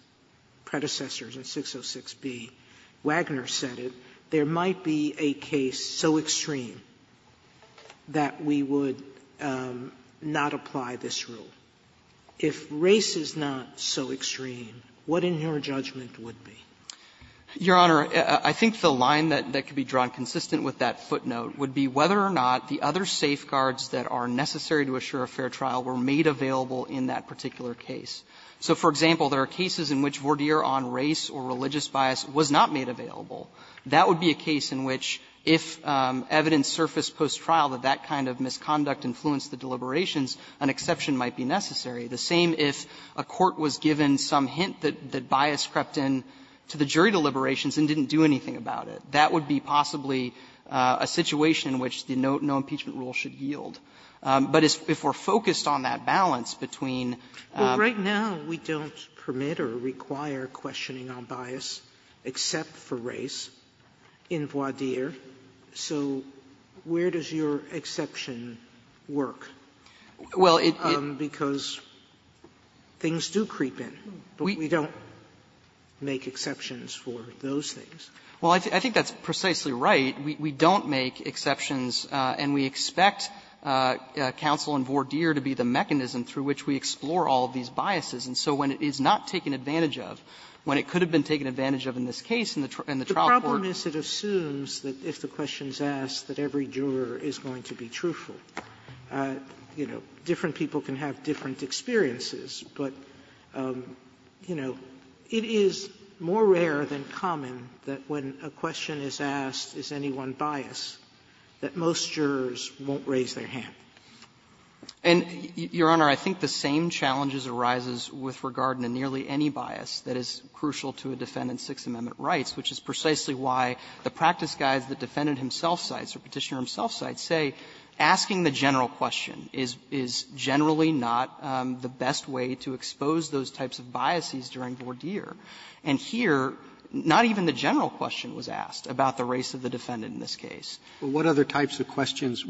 predecessors in 606B, Wagner said it, there might be a case so extreme that we would not apply this rule. If race is not so extreme, what in your judgment would be? Your Honor, I think the line that could be drawn consistent with that footnote would be whether or not the other safeguards that are necessary to assure a fair trial were made available in that particular case. So, for example, there are cases in which voir dire on race or religious bias was not made available. That would be a case in which if evidence surfaced post-trial that that kind of misconduct influenced the deliberations, an exception might be necessary. The same if a court was given some hint that bias crept in to the jury deliberations and didn't do anything about it. That would be possibly a situation in which the no impeachment rule should yield. But if we are focused on that balance between the two. Sotomayor, we don't permit or require questioning on bias except for race in voir dire, so where does your exception work? Because things do creep in, but we don't make exceptions for those things. Well, I think that's precisely right. We don't make exceptions, and we expect counsel in voir dire to be the mechanism through which we explore all of these biases. And so when it is not taken advantage of, when it could have been taken advantage of in this case in the trial court. The problem is it assumes that if the question is asked that every juror is going to be truthful, you know, different people can have different experiences. But, you know, it is more rare than common that when a question is asked, is anyone biased, that most jurors won't raise their hand. And, Your Honor, I think the same challenges arises with regard to nearly any bias that is crucial to a defendant's Sixth Amendment rights, which is precisely why the practice guides the defendant himself cites, or Petitioner himself cites, say asking the general question is generally not the best way to expose those types of biases during voir dire. And here, not even the general question was asked about the race of the defendant in this case. Roberts, what other types of questions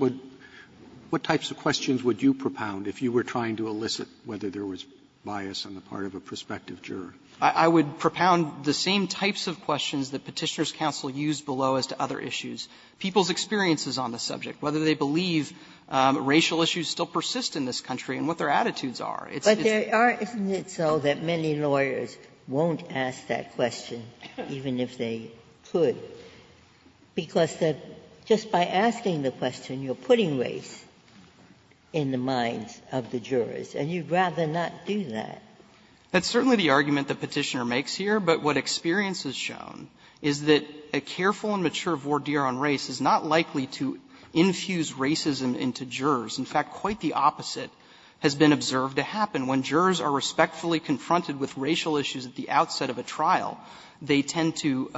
would you propound if you were trying to elicit whether there was bias on the part of a prospective juror? I would propound the same types of questions that Petitioner's counsel used below as to other issues. People's experiences on the subject, whether they believe racial issues still persist in this country and what their attitudes are. It's just that it's not that many lawyers won't ask that question, even if they could. Because just by asking the question, you are putting race in the minds of the jurors, and you would rather not do that. That's certainly the argument that Petitioner makes here, but what experience has shown is that a careful and mature voir dire on race is not likely to infuse racism into jurors. In fact, quite the opposite has been observed to happen. When jurors are respectfully confronted with racial issues at the outset of a trial, they tend to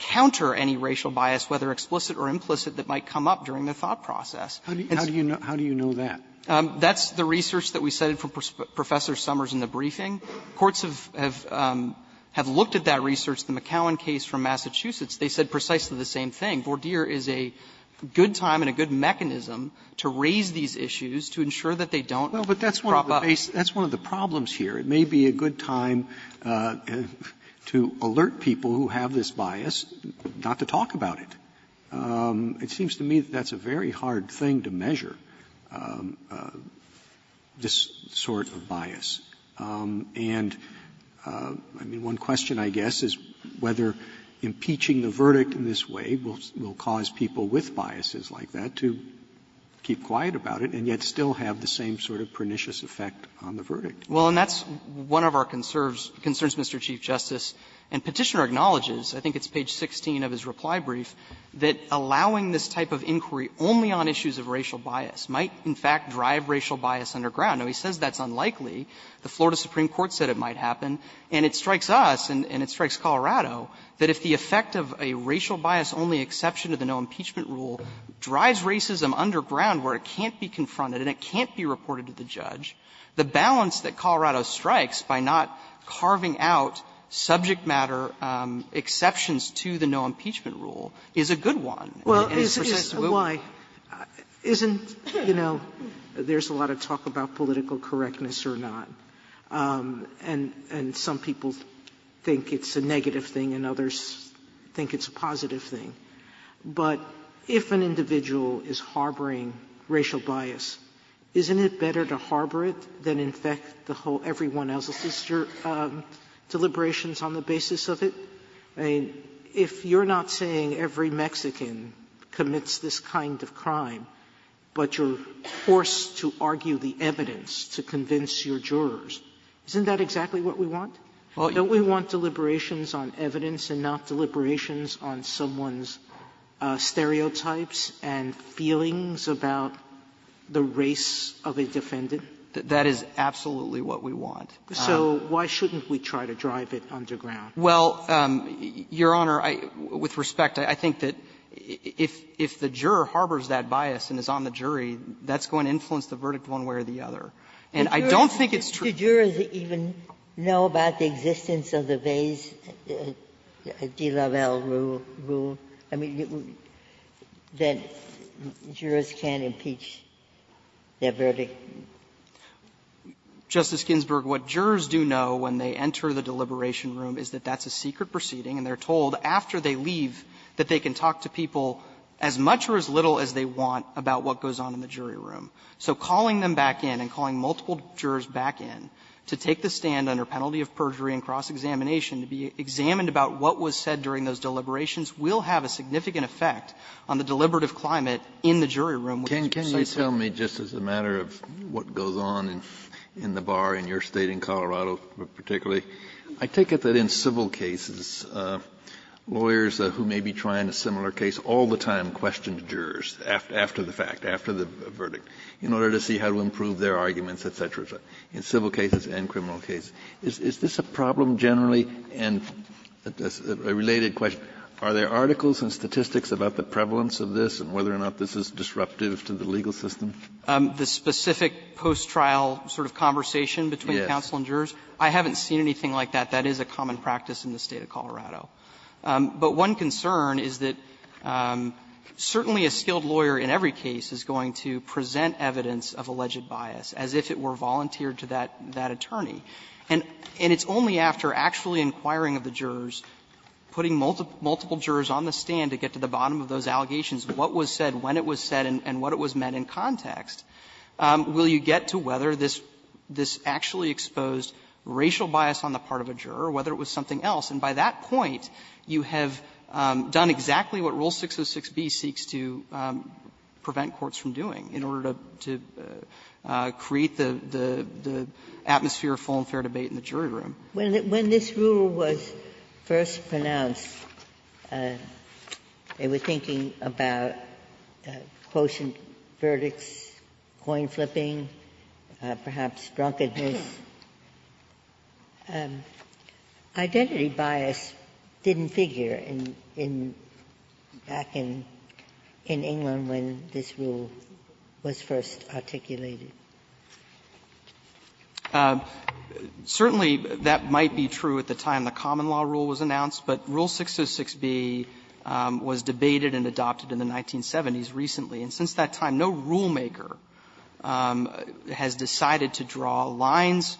counter any racial bias, whether explicit or implicit, that might come up during the thought process. And so the question is, how do you know that? That's the research that we cited from Professor Summers in the briefing. Courts have looked at that research, the McCowan case from Massachusetts. They said precisely the same thing. Voir dire is a good time and a good mechanism to raise these issues to ensure that they don't prop up. Roberts. Roberts, that's one of the problems here. It may be a good time to alert people who have this bias not to talk about it. It seems to me that that's a very hard thing to measure, this sort of bias. And, I mean, one question, I guess, is whether impeaching the verdict in this way will cause people with biases like that to keep quiet about it and yet still have the same sort of pernicious effect on the verdict. Well, and that's one of our concerns, Mr. Chief Justice. And Petitioner acknowledges, I think it's page 16 of his reply brief, that allowing this type of inquiry only on issues of racial bias might, in fact, drive racial bias underground. Now, he says that's unlikely. The Florida Supreme Court said it might happen. And it strikes us, and it strikes Colorado, that if the effect of a racial bias-only exception to the no impeachment rule drives racism underground where it can't be confronted and it can't be reported to the judge, the balance that Colorado strikes by not carving out subject matter exceptions to the no impeachment rule is a good one. And it's precisely what we're looking for. Sotomayor, isn't, you know, there's a lot of talk about political correctness or not, and some people think it's a negative thing and others think it's a positive thing. But if an individual is harboring racial bias, isn't it better to harbor it than to infect the whole, everyone else's deliberations on the basis of it? I mean, if you're not saying every Mexican commits this kind of crime, but you're forced to argue the evidence to convince your jurors, isn't that exactly what we want? Don't we want deliberations on evidence and not deliberations on someone's stereotypes and feelings about the race of a defendant? That is absolutely what we want. Sotomayor, so why shouldn't we try to drive it underground? Well, Your Honor, with respect, I think that if the juror harbors that bias and is on the jury, that's going to influence the verdict one way or the other. And I don't think it's true. Ginsburg, did the jurors even know about the existence of the Vays de Laval rule? I mean, that jurors can't impeach their verdict. Justice Ginsburg, what jurors do know when they enter the deliberation room is that that's a secret proceeding, and they're told after they leave that they can talk to people as much or as little as they want about what goes on in the jury room. So calling them back in and calling multiple jurors back in to take the stand under penalty of perjury and cross-examination to be examined about what was said during those deliberations will have a significant effect on the deliberative climate in the jury room. Kennedy, can you tell me, just as a matter of what goes on in the bar in your State in Colorado particularly, I take it that in civil cases, lawyers who may be trying a similar case all the time question the jurors after the fact, after the verdict, in order to see how to improve their arguments, et cetera, et cetera, in civil cases and criminal cases. Is this a problem generally and a related question? Are there articles and statistics about the prevalence of this and whether or not this is disruptive to the legal system? The specific post-trial sort of conversation between counsel and jurors? I haven't seen anything like that. That is a common practice in the State of Colorado. But one concern is that certainly a skilled lawyer in every case is going to present evidence of alleged bias, as if it were volunteered to that attorney. And it's only after actually inquiring of the jurors, putting multiple jurors on the stand to get to the bottom of those allegations, what was said, when it was said, and what it was meant in context, will you get to whether this actually exposed racial bias on the part of a juror or whether it was something else. And by that point, you have done exactly what Rule 606B seeks to prevent courts from doing in order to create the atmosphere of full and fair debate in the jury room. Ginsburg. When this rule was first pronounced, they were thinking about quotient verdicts, coin flipping, perhaps drunkenness. Identity bias didn't figure in the back in England when this rule was first articulated. Certainly, that might be true at the time the common law rule was announced. But Rule 606B was debated and adopted in the 1970s recently. And since that time, no rulemaker has decided to draw lines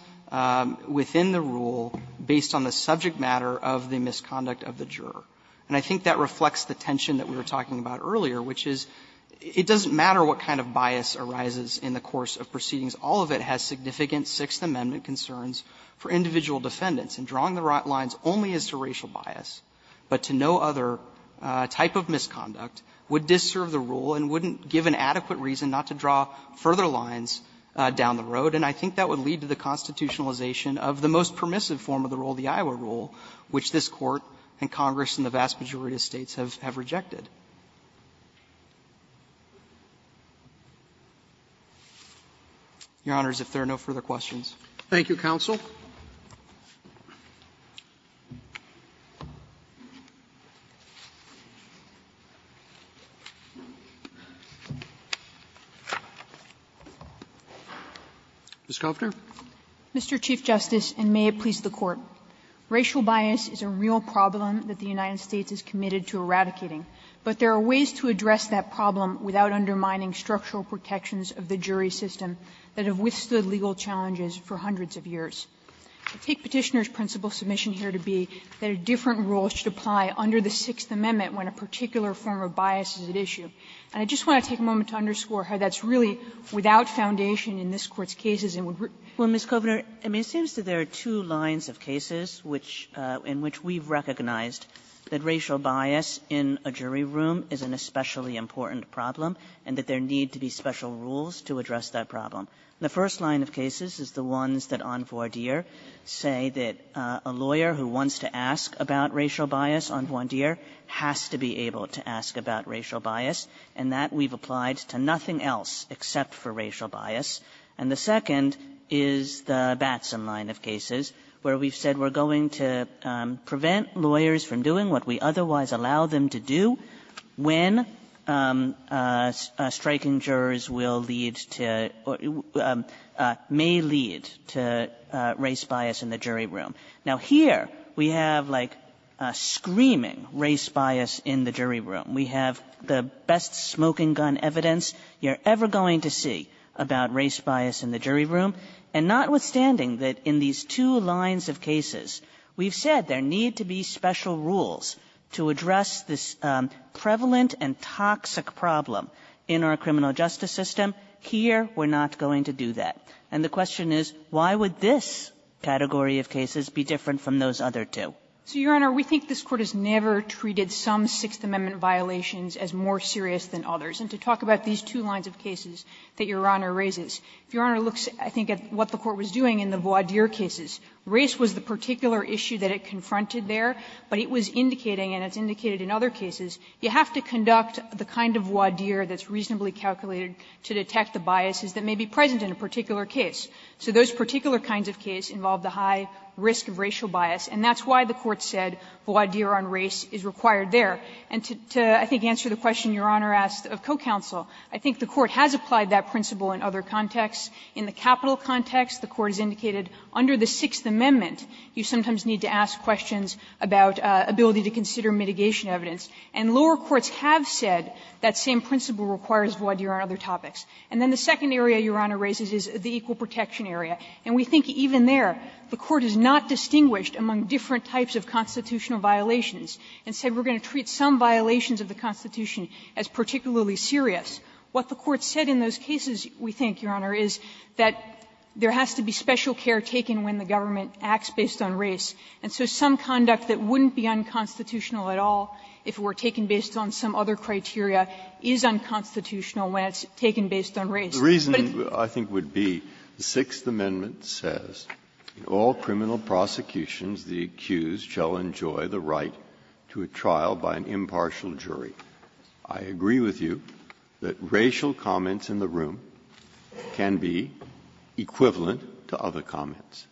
within the rule based on the subject matter of the misconduct of the juror. And I think that reflects the tension that we were talking about earlier, which is it doesn't matter what kind of bias arises in the course of proceedings. All of it has significant Sixth Amendment concerns for individual defendants. And drawing the lines only as to racial bias, but to no other type of misconduct, would disserve the rule and wouldn't give an adequate reason not to draw further lines down the road. And I think that would lead to the constitutionalization of the most permissive form of the rule, the Iowa rule, which this Court and Congress and the vast majority of States have rejected. Your Honors, if there are no further questions. Roberts Thank you, counsel. Ms. Kovner. Kovner Mr. Chief Justice, and may it please the Court. Racial bias is a real problem that the United States is committed to eradicating. But there are ways to address that problem without undermining structural protections of the jury system that have withstood legal challenges for hundreds of years. I take Petitioner's principal submission here to be that a different rule should apply under the Sixth Amendment when a particular form of bias is at issue. And I just want to take a moment to underscore how that's really without foundation in this Court's cases and would rear them. Kagan Well, Ms. Kovner, I mean, it seems that there are two lines of cases which we've recognized, that racial bias in a jury room is an especially important problem, and that there need to be special rules to address that problem. The first line of cases is the ones that, on voir dire, say that a lawyer who wants to ask about racial bias, on voir dire, has to be able to ask about racial bias, and that we've applied to nothing else except for racial bias. And the second is the Batson line of cases, where we've said we're going to prevent lawyers from doing what we otherwise allow them to do when striking jurors will lead to or may lead to race bias in the jury room. Now, here we have, like, screaming race bias in the jury room. We have the best smoking gun evidence you're ever going to see about race bias in the jury room. And notwithstanding that in these two lines of cases, we've said there need to be special rules to address this prevalent and toxic problem in our criminal justice system. Here, we're not going to do that. And the question is, why would this category of cases be different from those other two? So, Your Honor, we think this Court has never treated some Sixth Amendment violations as more serious than others. And to talk about these two lines of cases that Your Honor raises, if Your Honor looks, I think, at what the Court was doing in the voir dire cases, race was the particular issue that it confronted there, but it was indicating, and it's indicated in other cases, you have to conduct the kind of voir dire that's reasonably calculated to detect the biases that may be present in a particular case. So those particular kinds of case involve the high risk of racial bias, and that's why the Court said voir dire on race is required there. And to, I think, answer the question Your Honor asked of co-counsel, I think the Court has applied that principle in other contexts. In the capital context, the Court has indicated under the Sixth Amendment, you sometimes need to ask questions about ability to consider mitigation evidence. And lower courts have said that same principle requires voir dire on other topics. And then the second area, Your Honor raises, is the equal protection area. And we think even there, the Court has not distinguished among different types of constitutional violations and said we're going to treat some violations of the Constitution as particularly serious. What the Court said in those cases, we think, Your Honor, is that there has to be special care taken when the government acts based on race. And so some conduct that wouldn't be unconstitutional at all if it were taken based on some other criteria is unconstitutional when it's taken based on race. Breyer, The reason, I think, would be the Sixth Amendment says, in all criminal prosecutions, the accused shall enjoy the right to a trial by an impartial jury. I agree with you that racial comments in the room can be equivalent to other comments.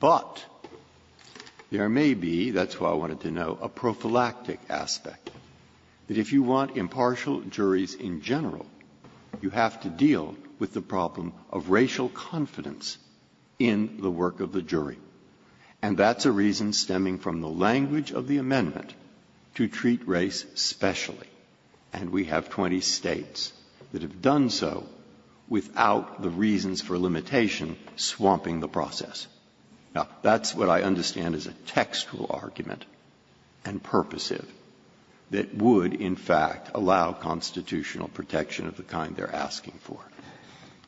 But there may be, that's what I wanted to know, a prophylactic aspect, that if you want impartial juries in general, you have to deal with the problem of racial confidence in the work of the jury. And that's a reason stemming from the language of the amendment to treat race specially. And we have 20 States that have done so without the reasons for limitation swamping the process. Now, that's what I understand is a textual argument and purposive that would in fact allow constitutional protection of the kind they're asking for.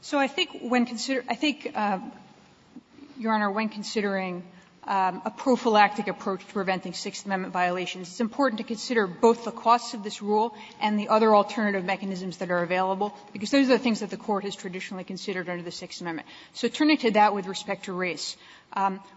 So I think when considering, I think, Your Honor, when considering a prophylactic approach to preventing Sixth Amendment violations, it's important to consider both the costs of this rule and the other alternative mechanisms that are available, because those are things that the Court has traditionally considered under the Sixth Amendment. So turning to that with respect to race,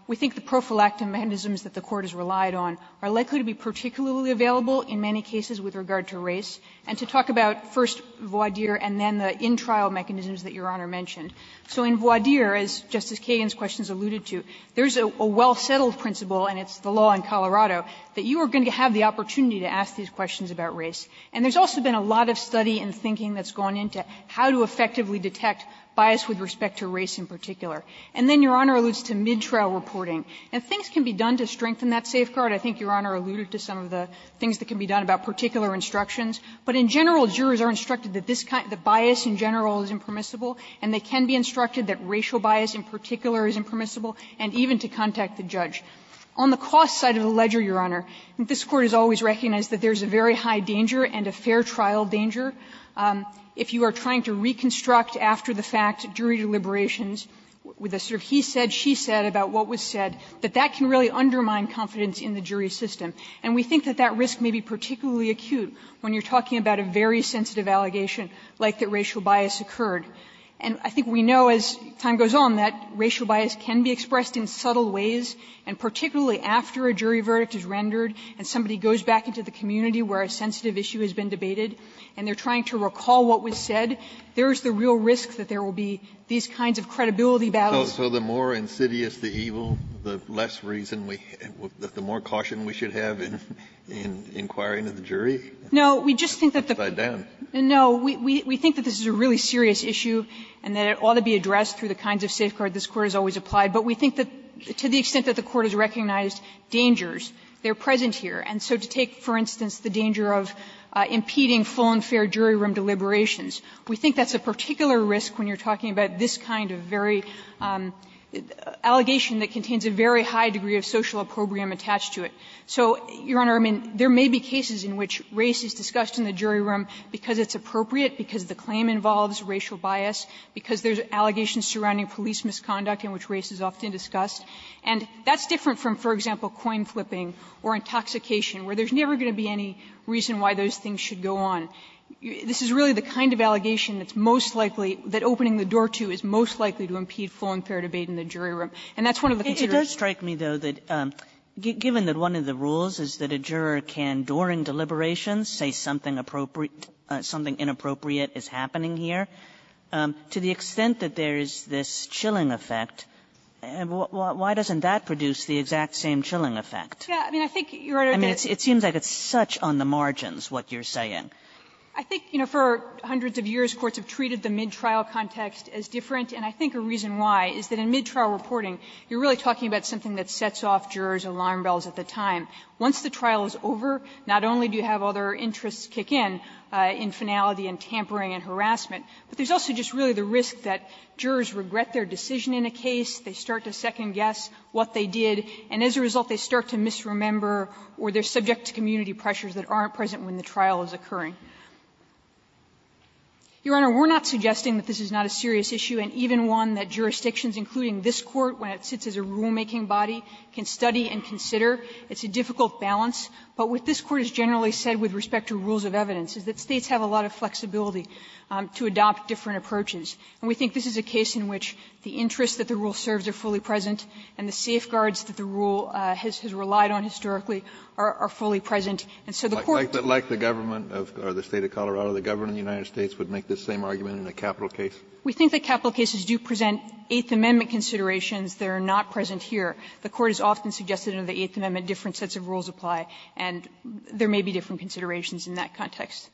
we think the prophylactic mechanisms that the Court has relied on are likely to be particularly available in many cases with regard to race. And to talk about first, voir dire, and then the in-trial mechanisms that Your Honor mentioned. So in voir dire, as Justice Kagan's questions alluded to, there's a well-settled principle, and it's the law in Colorado, that you are going to have the opportunity to ask these questions about race. And there's also been a lot of study and thinking that's gone into how to effectively detect bias with respect to race in particular. And then Your Honor alludes to mid-trial reporting. Now, things can be done to strengthen that safeguard. I think Your Honor alluded to some of the things that can be done about particular instructions. But in general, jurors are instructed that this kind of bias in general is impermissible, and they can be instructed that racial bias in particular is impermissible, and even to contact the judge. On the cost side of the ledger, Your Honor, this Court has always recognized that there's a very high danger and a fair trial danger. If you are trying to reconstruct after-the-fact jury deliberations with a sort of he-said-she-said about what was said, that that can really undermine confidence in the jury system. And we think that that risk may be particularly acute when you're talking about a very sensitive allegation like that racial bias occurred. And I think we know, as time goes on, that racial bias can be expressed in subtle ways, and particularly after a jury verdict is rendered and somebody goes back into the community where a sensitive issue has been debated, and they're trying to recall what was said, there's the real risk that there will be these kinds of credibility battles. Kennedy, so the more insidious the evil, the less reason we have to be more cautious we should have in inquiring of the jury? No, we just think that the court has always applied, but we think that to the extent that the court has recognized dangers, they're present here. And so to take, for instance, the danger of impeding full and fair jury room deliberations, we think that's a particular risk when you're talking about this kind of very allegation that contains a very high degree of social opprobrium attached to it. So, Your Honor, I mean, there may be cases in which race is discussed in the jury room because it's appropriate, because the claim involves racial bias, because there's allegations surrounding police misconduct in which race is often discussed. And that's different from, for example, coin flipping or intoxication where there's never going to be any reason why those things should go on. This is really the kind of allegation that's most likely, that opening the door to is most likely to impede full and fair debate in the jury room. And that's one of the considerations. Kagan it does strike me, though, that given that one of the rules is that a juror can, during deliberations, say something inappropriate is happening here, to the extent that there is this chilling effect, why doesn't that produce the exact same chilling effect? I mean, it seems like it's such on the margins what you're saying. I think, you know, for hundreds of years courts have treated the midtrial context as different, and I think a reason why is that in midtrial reporting, you're really talking about something that sets off jurors' alarm bells at the time. Once the trial is over, not only do you have other interests kick in, in finality and tampering and harassment, but there's also just really the risk that jurors regret their decision in a case, they start to second-guess what they did, and as a result they start to misremember or they're subject to community pressures that aren't present when the trial is occurring. Your Honor, we're not suggesting that this is not a serious issue, and even one that jurisdictions, including this Court, when it sits as a rulemaking body, can study and consider. It's a difficult balance, but what this Court has generally said with respect to rules of evidence is that States have a lot of flexibility to adopt different approaches. And we think this is a case in which the interests that the rule serves are fully present and the safeguards that the rule has relied on historically are fully present. And so the Court can't do that. Kennedy, like the Government of the State of Colorado, the Government of the United States, would make this same argument in a capital case? We think that capital cases do present Eighth Amendment considerations that are not present here. The Court has often suggested under the Eighth Amendment different sets of rules apply, and there may be different considerations in that context.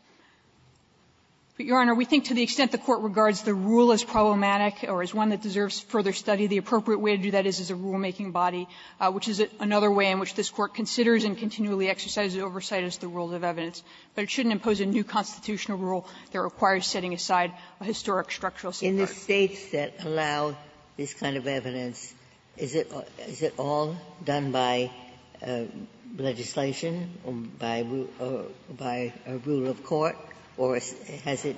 But, Your Honor, we think to the extent the Court regards the rule as problematic or as one that deserves further study, the appropriate way to do that is as a rulemaking body, which is another way in which this Court considers and continually exercises oversight as the rule of evidence. But it shouldn't impose a new constitutional rule that requires setting aside a historic structural safeguard. Ginsburg, are the states that allow this kind of evidence, is it all done by legislation or by rule of court, or has it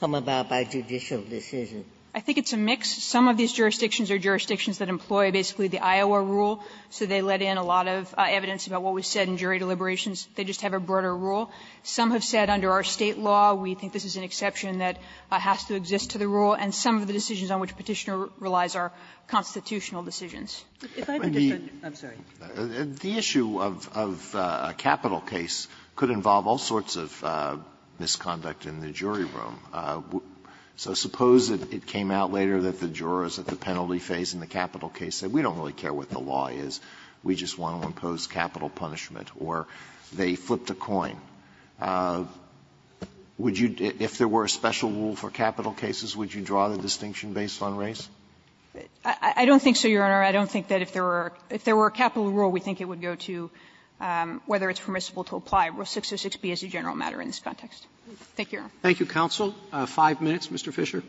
come about by judicial decision? I think it's a mix. Some of these jurisdictions are jurisdictions that employ basically the Iowa rule, so they let in a lot of evidence about what was said in jury deliberations. They just have a broader rule. Some have said under our State law, we think this is an exception that has to exist to the rule, and some of the decisions on which Petitioner relies are constitutional decisions. If I could just add to that, I'm sorry. Alito, the issue of a capital case could involve all sorts of misconduct in the jury room. So suppose it came out later that the jurors at the penalty phase in the capital case said we don't really care what the law is, we just want to impose capital punishment, or they flipped a coin. Would you, if there were a special rule for capital cases, would you draw the distinction based on race? I don't think so, Your Honor. I don't think that if there were a capital rule, we think it would go to whether it's permissible to apply Rule 606B as a general matter in this context. Thank you, Your Honor. Thank you, counsel. Five minutes, Mr. Fisher.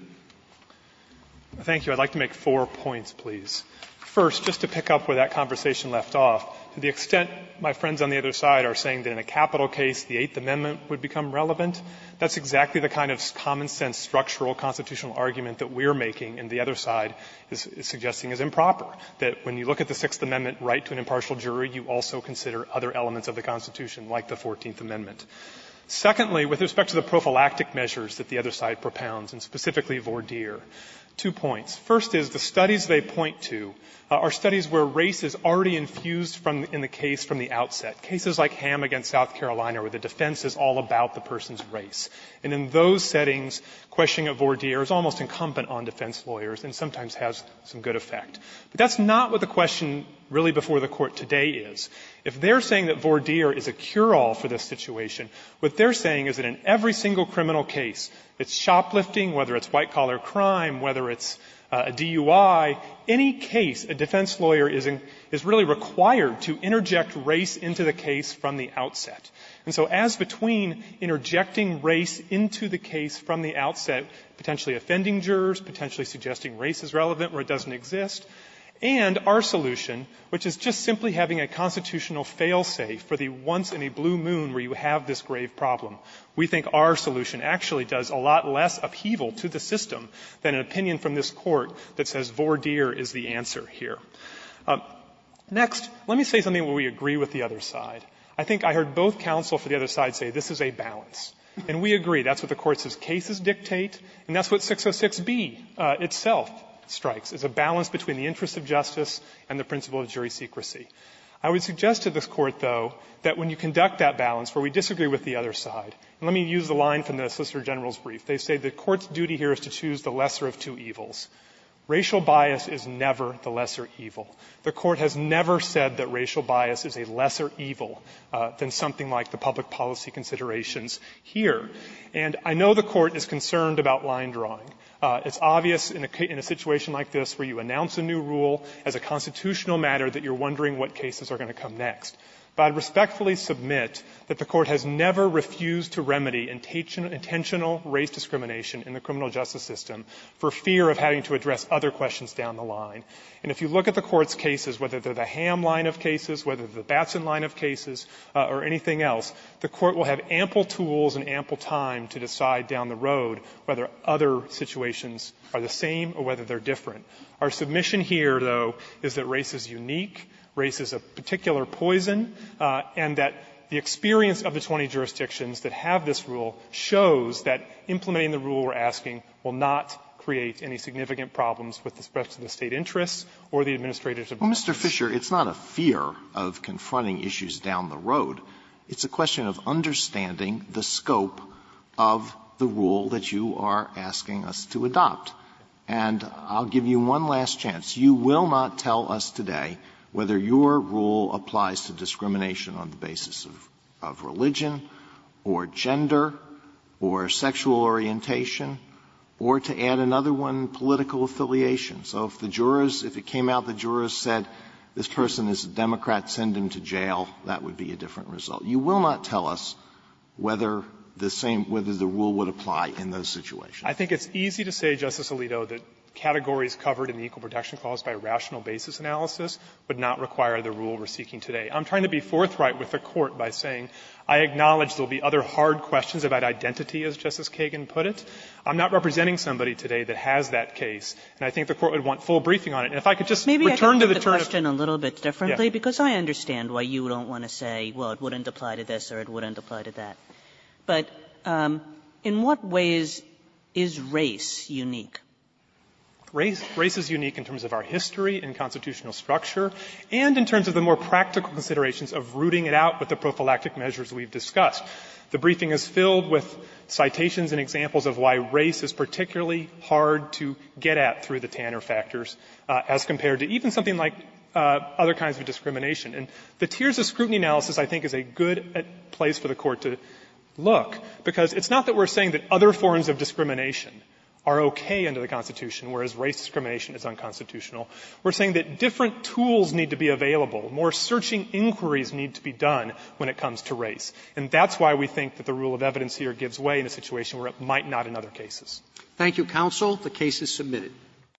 Thank you. I'd like to make four points, please. First, just to pick up where that conversation left off, to the extent my friends on the other side are saying that in a capital case the Eighth Amendment would become relevant, that's exactly the kind of common-sense structural constitutional argument that we're making and the other side is suggesting is improper, that when you look at the Sixth Amendment right to an impartial jury, you also consider other elements of the Constitution, like the Fourteenth Amendment. Secondly, with respect to the prophylactic measures that the other side propounds, and specifically Vordeer, two points. First is, the studies they point to are studies where race is already infused in the case from the outset. Cases like Ham v. South Carolina, where the defense is all about the person's race. And in those settings, questioning of Vordeer is almost incumbent on defense lawyers and sometimes has some good effect. But that's not what the question really before the Court today is. If they're saying that Vordeer is a cure-all for this situation, what they're saying is that in every single criminal case, it's shoplifting, whether it's white-collar crime, whether it's a DUI, any case a defense lawyer is in, is really required to interject race into the case from the outset. And so, as between interjecting race into the case from the outset, potentially offending jurors, potentially suggesting race is relevant where it doesn't exist, and our solution, which is just simply having a constitutional fail-safe for the once-in-a-blue-moon where you have this grave problem, we think our solution actually does a lot less upheaval to the system than an opinion from this Court that says Vordeer is the answer here. Next, let me say something where we agree with the other side. I think I heard both counsel for the other side say this is a balance. And we agree. That's what the Court says cases dictate, and that's what 606b itself strikes, is a balance between the interests of justice and the principle of jury secrecy. I would suggest to this Court, though, that when you conduct that balance where we disagree with the other side, and let me use the line from the Solicitor General's brief, they say the Court's duty here is to choose the lesser of two evils. Racial bias is never the lesser evil. The Court has never said that racial bias is a lesser evil than something like the public policy considerations here. And I know the Court is concerned about line drawing. It's obvious in a situation like this where you announce a new rule as a constitutional matter that you're wondering what cases are going to come next. But I respectfully submit that the Court has never refused to remedy intention racial discrimination in the criminal justice system for fear of having to address other questions down the line. And if you look at the Court's cases, whether they're the Ham line of cases, whether they're the Batson line of cases, or anything else, the Court will have ample tools and ample time to decide down the road whether other situations are the same or whether they're different. Our submission here, though, is that race is unique, race is a particular poison, and that the experience of the 20 jurisdictions that have this rule shows that implementing the rule we're asking will not create any significant problems with the spreads of the State interests or the administrators of the rule. Alito, it's not a fear of confronting issues down the road. It's a question of understanding the scope of the rule that you are asking us to adopt. And I'll give you one last chance. You will not tell us today whether your rule applies to discrimination on the basis of religion or gender or sexual orientation or to add another one, political affiliation. So if the jurors, if it came out the jurors said this person is a Democrat, send him to jail, that would be a different result. You will not tell us whether the same rule would apply in those situations. Fisherman, I think it's easy to say, Justice Alito, that categories covered in the Equal Protection Clause by rational basis analysis would not require the rule we're seeking today. I'm trying to be forthright with the Court by saying I acknowledge there will be other hard questions about identity, as Justice Kagan put it. I'm not representing somebody today that has that case, and I think the Court would want full briefing on it. And if I could just return to the term of the question a little bit differently because I understand why you don't want to say, well, it wouldn't apply to this or it wouldn't apply to that. But in what ways is race unique? Fisherman, Race is unique in terms of our history and constitutional structure. And in terms of the more practical considerations of rooting it out with the prophylactic measures we've discussed. The briefing is filled with citations and examples of why race is particularly hard to get at through the Tanner factors as compared to even something like other kinds of discrimination. And the tiers of scrutiny analysis I think is a good place for the Court to look, because it's not that we're saying that other forms of discrimination are okay under the Constitution, whereas race discrimination is unconstitutional. We're saying that different tools need to be available. More searching inquiries need to be done when it comes to race. And that's why we think that the rule of evidence here gives way in a situation where it might not in other cases. Roberts. Thank you, counsel. The case is submitted.